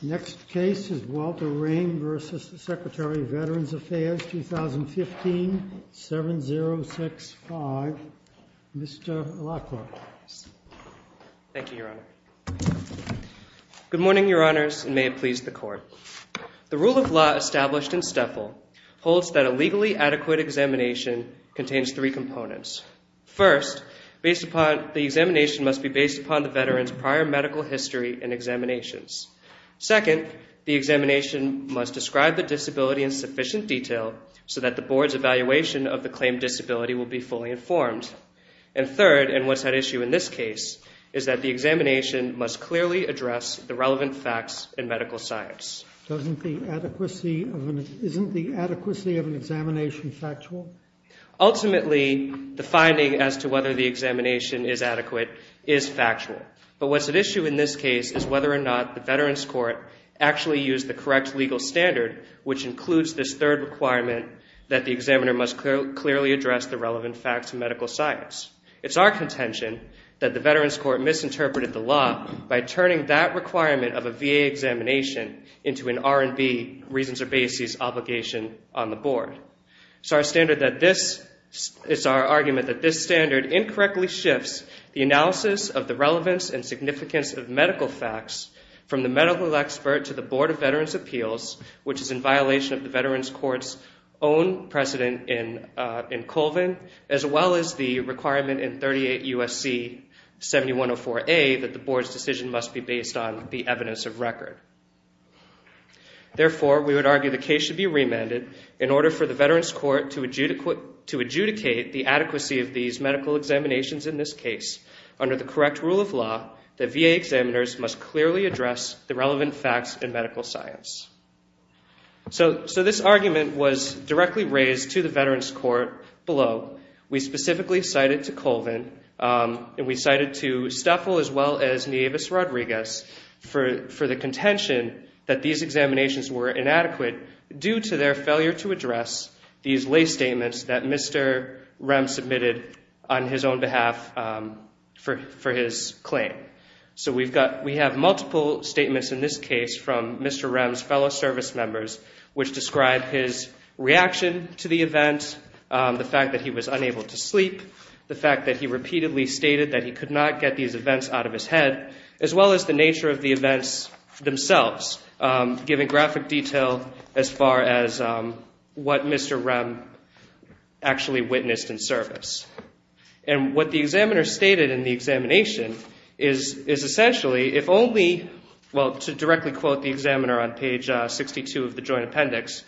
Next case is Walter Rehm v. Secretary of Veterans Affairs, 2015, 7065. Mr. Lacroix. Thank you, Your Honor. Good morning, Your Honors, and may it please the Court. The rule of law established in STEFL holds that a legally adequate examination contains three components. First, the examination must be based upon the veteran's prior medical history and examinations. Second, the examination must describe the disability in sufficient detail so that the Board's evaluation of the claimed disability will be fully informed. And third, and what's at issue in this case, is that the examination must clearly address the relevant facts in medical science. Isn't the adequacy of an examination factual? Ultimately, the finding as to whether the examination is adequate is factual. But what's at issue in this case is whether or not the Veterans Court actually used the correct legal standard, which includes this third requirement that the examiner must clearly address the relevant facts in medical science. It's our contention that the Veterans Court misinterpreted the law by turning that requirement of a VA examination into an R&B, reasons or basis, obligation on the Board. It's our argument that this standard incorrectly shifts the analysis of the relevance and significance of medical facts from the medical expert to the Board of Veterans' Appeals, which is in violation of the Veterans Court's own precedent in Colvin, as well as the requirement in 38 U.S.C. 7104A that the Board's decision must be based on the evidence of record. Therefore, we would argue the case should be remanded in order for the Veterans Court to adjudicate the adequacy of these medical examinations in this case under the correct rule of law that VA examiners must clearly address the relevant facts in medical science. So this argument was directly raised to the Veterans Court below. We specifically cited to Colvin, and we cited to Steffel as well as Nieves-Rodriguez for the contention that these examinations were inadequate due to their failure to address these lay statements that Mr. Rems submitted on his own behalf for his claim. So we have multiple statements in this case from Mr. Rems' fellow service members which describe his reaction to the event, the fact that he was unable to sleep, the fact that he repeatedly stated that he could not get these events out of his head, as well as the nature of the events themselves, giving graphic detail as far as what Mr. Rem actually witnessed in service. And what the examiner stated in the examination is essentially if only, well, to directly quote the examiner on page 62 of the joint appendix,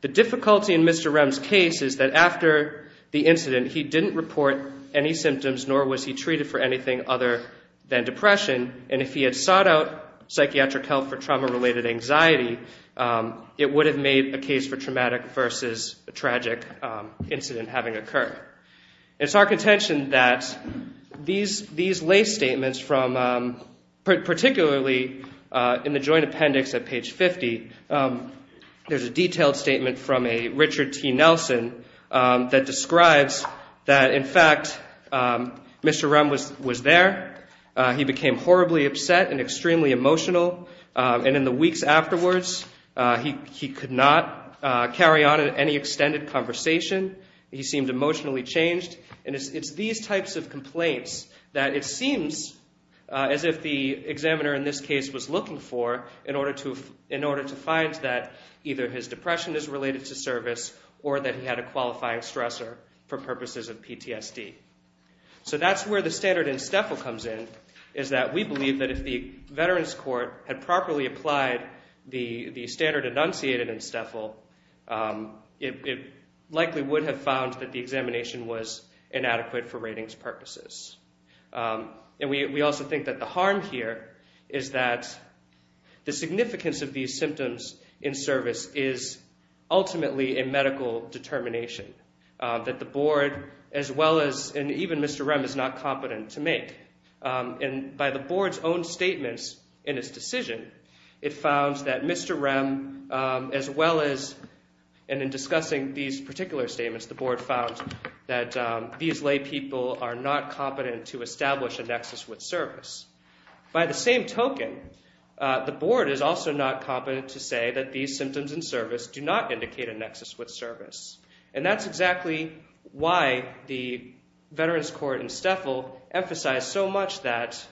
the difficulty in Mr. Rems' case is that after the incident, he didn't report any symptoms, nor was he treated for anything other than depression, and if he had sought out psychiatric help for trauma-related anxiety, it would have made a case for traumatic versus a tragic incident having occurred. It's our contention that these lay statements, particularly in the joint appendix at page 50, there's a detailed statement from a Richard T. Nelson that describes that, in fact, Mr. Rems was there, he became horribly upset and extremely emotional, and in the weeks afterwards, he could not carry on any extended conversation. He seemed emotionally changed. And it's these types of complaints that it seems as if the examiner in this case was looking for in order to find that either his depression is related to service or that he had a qualifying stressor for purposes of PTSD. So that's where the standard in STFL comes in is that we believe that if the Veterans Court had properly applied the standard enunciated in STFL, it likely would have found that the examination was inadequate for ratings purposes. And we also think that the harm here is that the significance of these symptoms in service is ultimately a medical determination, that the board, as well as, and even Mr. Rems, is not competent to make. And by the board's own statements in its decision, it found that Mr. Rems, as well as, and in discussing these particular statements, the board found that these lay people are not competent to establish a nexus with service. By the same token, the board is also not competent to say that these symptoms in service do not indicate a nexus with service. And that's exactly why the Veterans Court in STFL emphasized so much that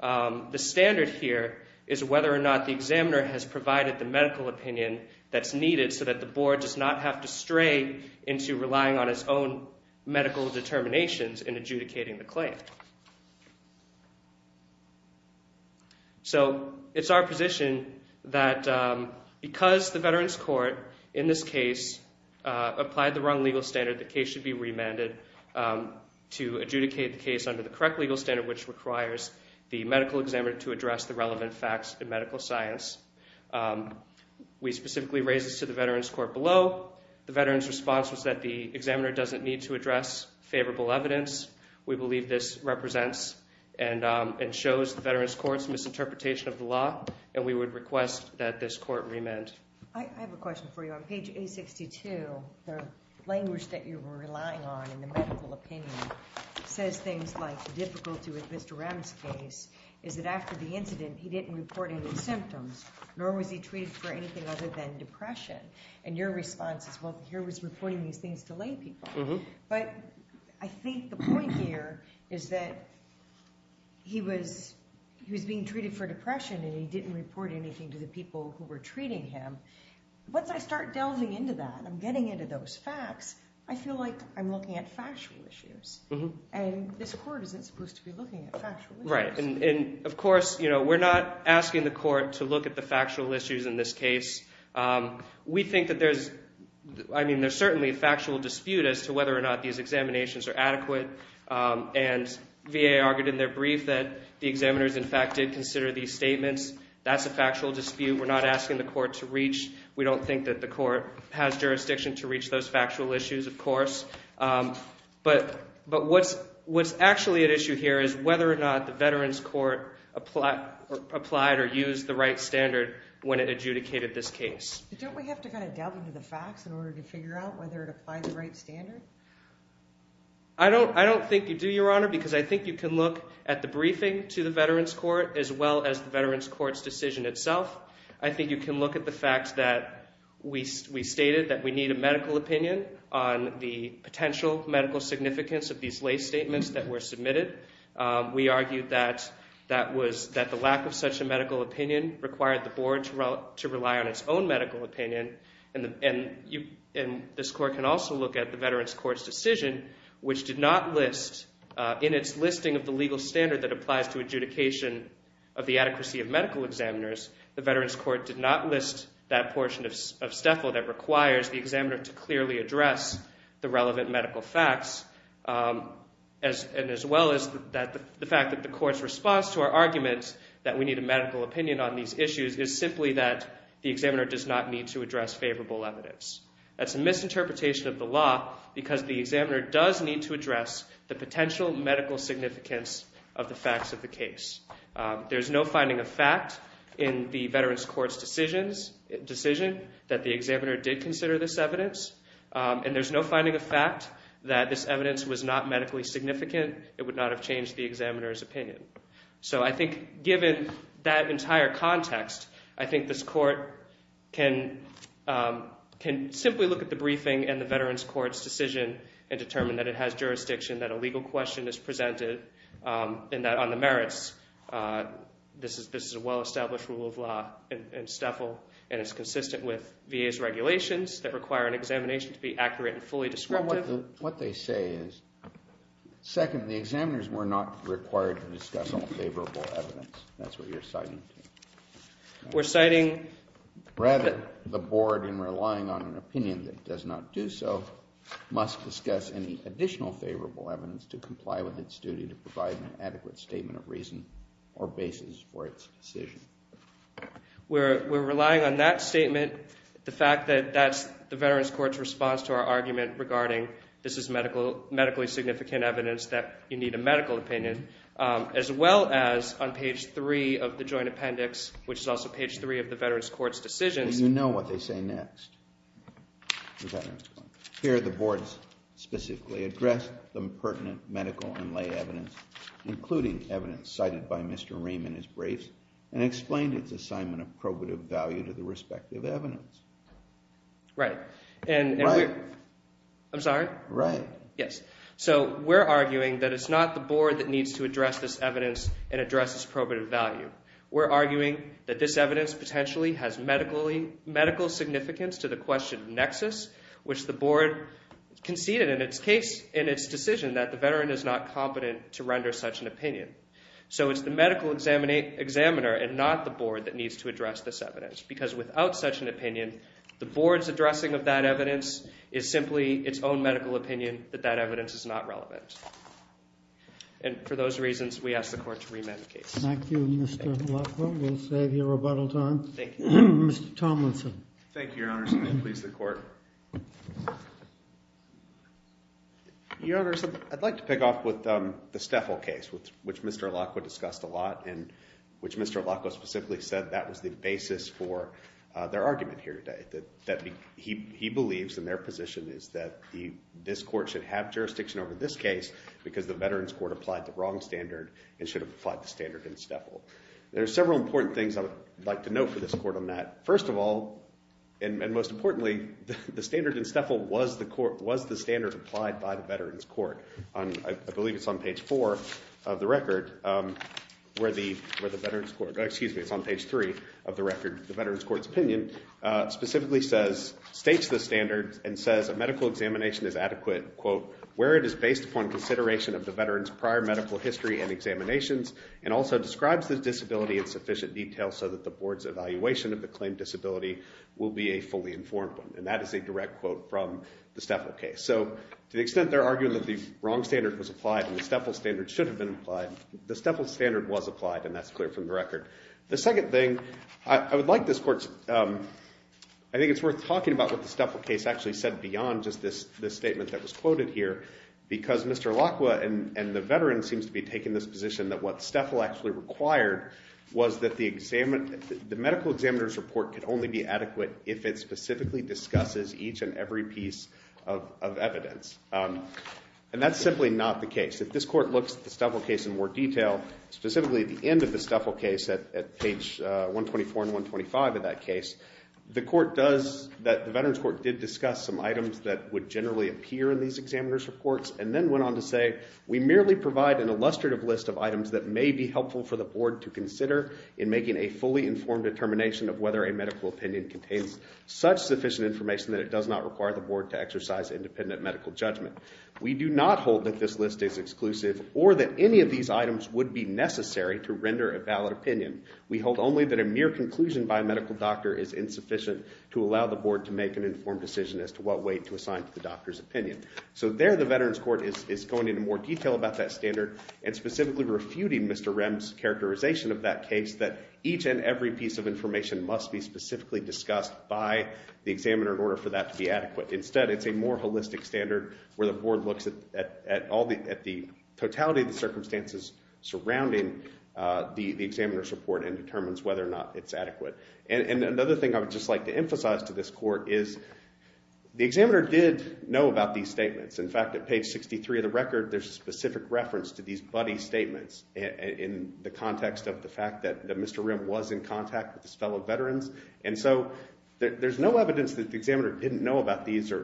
the standard here is whether or not the examiner has provided the medical opinion that's needed so that the board does not have to stray into relying on its own medical determinations in adjudicating the claim. So it's our position that because the Veterans Court, in this case, applied the wrong legal standard, the case should be remanded to adjudicate the case under the correct legal standard, which requires the medical examiner to address the relevant facts in medical science. We specifically raised this to the Veterans Court below. The veterans' response was that the examiner doesn't need to address favorable evidence. We believe this represents and shows the Veterans Court's misinterpretation of the law, and we would request that this court remand. I have a question for you. On page 862, the language that you were relying on in the medical opinion says things like, the difficulty with Mr. Rems' case is that after the incident, he didn't report any symptoms, nor was he treated for anything other than depression. And your response is, well, here he was reporting these things to lay people. But I think the point here is that he was being treated for depression, and he didn't report anything to the people who were treating him. Once I start delving into that, I'm getting into those facts, I feel like I'm looking at factual issues. And this court isn't supposed to be looking at factual issues. Right, and, of course, we're not asking the court to look at the factual issues in this case. We think that there's certainly a factual dispute as to whether or not these examinations are adequate. And VA argued in their brief that the examiners, in fact, did consider these statements. That's a factual dispute. We're not asking the court to reach. We don't think that the court has jurisdiction to reach those factual issues, of course. But what's actually at issue here is whether or not the Veterans Court applied or used the right standard when it adjudicated this case. Don't we have to kind of delve into the facts in order to figure out whether it applied the right standard? I don't think you do, Your Honor, because I think you can look at the briefing to the Veterans Court as well as the Veterans Court's decision itself. I think you can look at the fact that we stated that we need a medical opinion on the potential medical significance of these lay statements that were submitted. We argued that the lack of such a medical opinion required the board to rely on its own medical opinion. And this court can also look at the Veterans Court's decision which did not list, in its listing of the legal standard that applies to adjudication of the adequacy of medical examiners, the Veterans Court did not list that portion of STFL that requires the examiner to clearly address the relevant medical facts as well as the fact that the court's response to our argument that we need a medical opinion on these issues is simply that the examiner does not need to address favorable evidence. That's a misinterpretation of the law because the examiner does need to address the potential medical significance of the facts of the case. There's no finding of fact in the Veterans Court's decision that the examiner did consider this evidence. And there's no finding of fact that this evidence was not medically significant. It would not have changed the examiner's opinion. So I think given that entire context, I think this court can simply look at the briefing and the Veterans Court's decision and determine that it has jurisdiction, that a legal question is presented, and that on the merits, this is a well-established rule of law in STFL and is consistent with VA's regulations that require an examination to be accurate and fully descriptive. Well, what they say is, second, the examiners were not required to discuss all favorable evidence. That's what you're citing. We're citing... Rather, the board, in relying on an opinion that does not do so, must discuss any additional favorable evidence to comply with its duty to provide an adequate statement of reason or basis for its decision. We're relying on that statement, the fact that that's the Veterans Court's response to our argument regarding this is medically significant evidence that you need a medical opinion, as well as on page 3 of the joint appendix, which is also page 3 of the Veterans Court's decision. And you know what they say next. Here, the board specifically addressed the pertinent medical and lay evidence, including evidence cited by Mr. Raymond as brave, and explained its assignment of probative value to the respective evidence. Right. Right. I'm sorry? Right. Yes. So we're arguing that it's not the board that needs to address this evidence and address its probative value. We're arguing that this evidence potentially has medical significance to the question of nexus, which the board conceded in its case, in its decision, that the veteran is not competent to render such an opinion. So it's the medical examiner and not the board that needs to address this evidence, because without such an opinion, the board's addressing of that evidence is simply its own medical opinion that that evidence is not relevant. And for those reasons, we ask the court to remand the case. Thank you, Mr. Leffler. We'll save you rebuttal time. Thank you. Mr. Tomlinson. Thank you, Your Honor. Please, the court. Your Honor, I'd like to pick off with the Steffel case, which Mr. Alaco discussed a lot, and which Mr. Alaco specifically said that was the basis for their argument here today, that he believes in their position is that this court should have jurisdiction over this case because the Veterans Court applied the wrong standard and should have applied the standard in Steffel. There are several important things I would like to note for this court on that. First of all, and most importantly, the standard in Steffel was the standard applied by the Veterans Court. I believe it's on page 4 of the record, where the Veterans Court, excuse me, it's on page 3 of the record, the Veterans Court's opinion, specifically states the standard and says a medical examination is adequate, quote, where it is based upon consideration of the veteran's prior medical history and examinations and also describes the disability in sufficient detail so that the board's evaluation of the claimed disability will be a fully informed one. And that is a direct quote from the Steffel case. So to the extent they're arguing that the wrong standard was applied and the Steffel standard should have been applied, the Steffel standard was applied, and that's clear from the record. The second thing I would like this court, I think it's worth talking about what the Steffel case actually said beyond just this statement that was quoted here, because Mr. Lacqua and the veteran seems to be taking this position that what Steffel actually required was that the medical examiner's report could only be adequate if it specifically discusses each and every piece of evidence. And that's simply not the case. If this court looks at the Steffel case in more detail, specifically at the end of the Steffel case at page 124 and 125 of that case, the veterans court did discuss some items that would generally appear in these examiner's reports and then went on to say, we merely provide an illustrative list of items that may be helpful for the board to consider in making a fully informed determination of whether a medical opinion contains such sufficient information that it does not require the board to exercise independent medical judgment. We do not hold that this list is exclusive or that any of these items would be necessary to render a valid opinion. We hold only that a mere conclusion by a medical doctor is insufficient to allow the board to make an informed decision as to what weight to assign to the doctor's opinion. So there the veterans court is going into more detail about that standard and specifically refuting Mr. Rem's characterization of that case that each and every piece of information must be specifically discussed by the examiner in order for that to be adequate. Instead, it's a more holistic standard where the board looks at the totality of the circumstances surrounding the examiner's report and determines whether or not it's adequate. And another thing I would just like to emphasize to this court is the examiner did know about these statements. In fact, at page 63 of the record, there's a specific reference to these buddy statements in the context of the fact that Mr. Rem was in contact with his fellow veterans. And so there's no evidence that the examiner didn't know about these or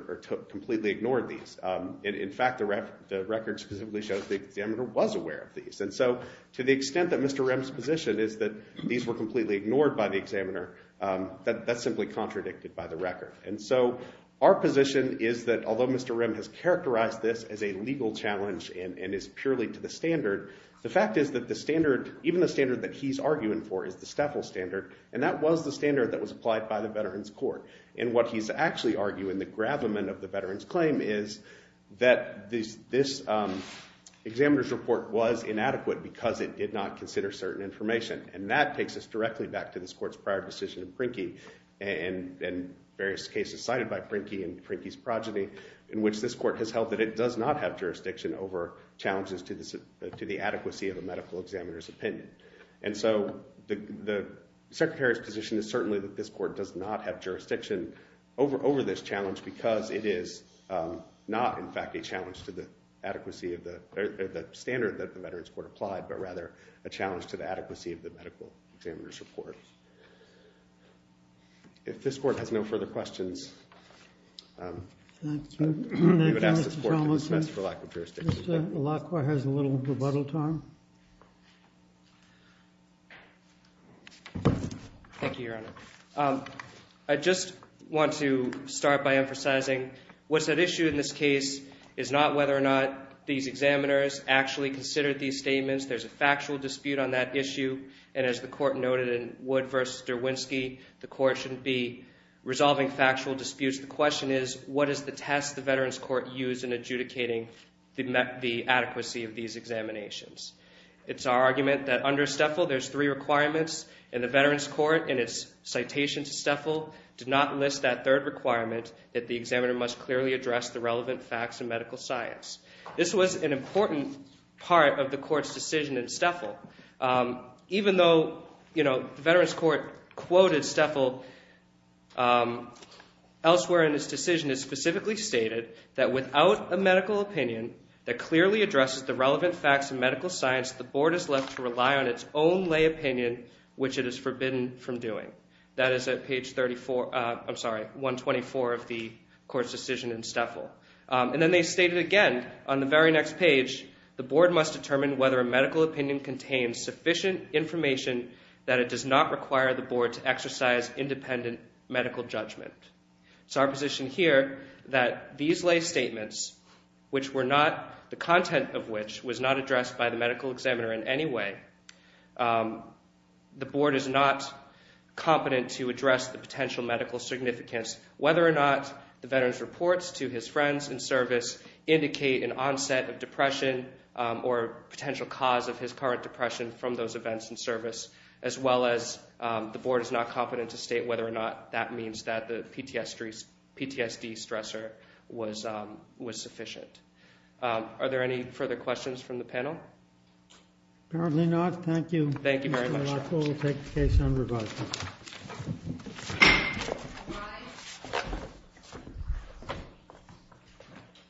completely ignored these. In fact, the record specifically shows the examiner was aware of these. And so to the extent that Mr. Rem's position is that these were completely ignored by the examiner, that's simply contradicted by the record. And so our position is that although Mr. Rem has characterized this as a legal challenge and is purely to the standard, the fact is that the standard, even the standard that he's arguing for, is the STFL standard, and that was the standard that was applied by the veterans court. And what he's actually arguing, the gravamen of the veterans claim, is that this examiner's report was inadequate because it did not consider certain information. And that takes us directly back to this court's prior decision in Prinke and various cases cited by Prinke and Prinke's progeny in which this court has held that it does not have jurisdiction over challenges to the adequacy of a medical examiner's opinion. And so the secretary's position is certainly that this court does not have jurisdiction over this challenge because it is not, in fact, a challenge to the adequacy of the standard that the veterans court applied, but rather a challenge to the adequacy of the medical examiner's report. If this court has no further questions, we would ask this court to dismiss for lack of jurisdiction. Mr. Lacroix has a little rebuttal time. Thank you, Your Honor. I just want to start by emphasizing what's at issue in this case is not whether or not these examiners actually considered these statements. There's a factual dispute on that issue, and as the court noted in Wood v. Derwinski, the court shouldn't be resolving factual disputes. The question is, what is the test the veterans court used in adjudicating the adequacy of these examinations? It's our argument that under Steffel, there's three requirements, and the veterans court in its citation to Steffel did not list that third requirement that the examiner must clearly address the relevant facts in medical science. This was an important part of the court's decision in Steffel. Even though the veterans court quoted Steffel elsewhere in its decision, it specifically stated that without a medical opinion that clearly addresses the relevant facts in medical science, the board is left to rely on its own lay opinion, which it is forbidden from doing. That is at page 124 of the court's decision in Steffel. And then they stated again on the very next page, the board must determine whether a medical opinion contains sufficient information that it does not require the board to exercise independent medical judgment. It's our position here that these lay statements, which were not, the content of which was not addressed by the medical examiner in any way, the board is not competent to address the potential medical significance, whether or not the veterans reports to his friends in service indicate an onset of depression or potential cause of his current depression from those events in service, as well as the board is not competent to state whether or not that means that the PTSD stressor was sufficient. Are there any further questions from the panel? Apparently not. Thank you. Thank you very much. We'll take the case on review.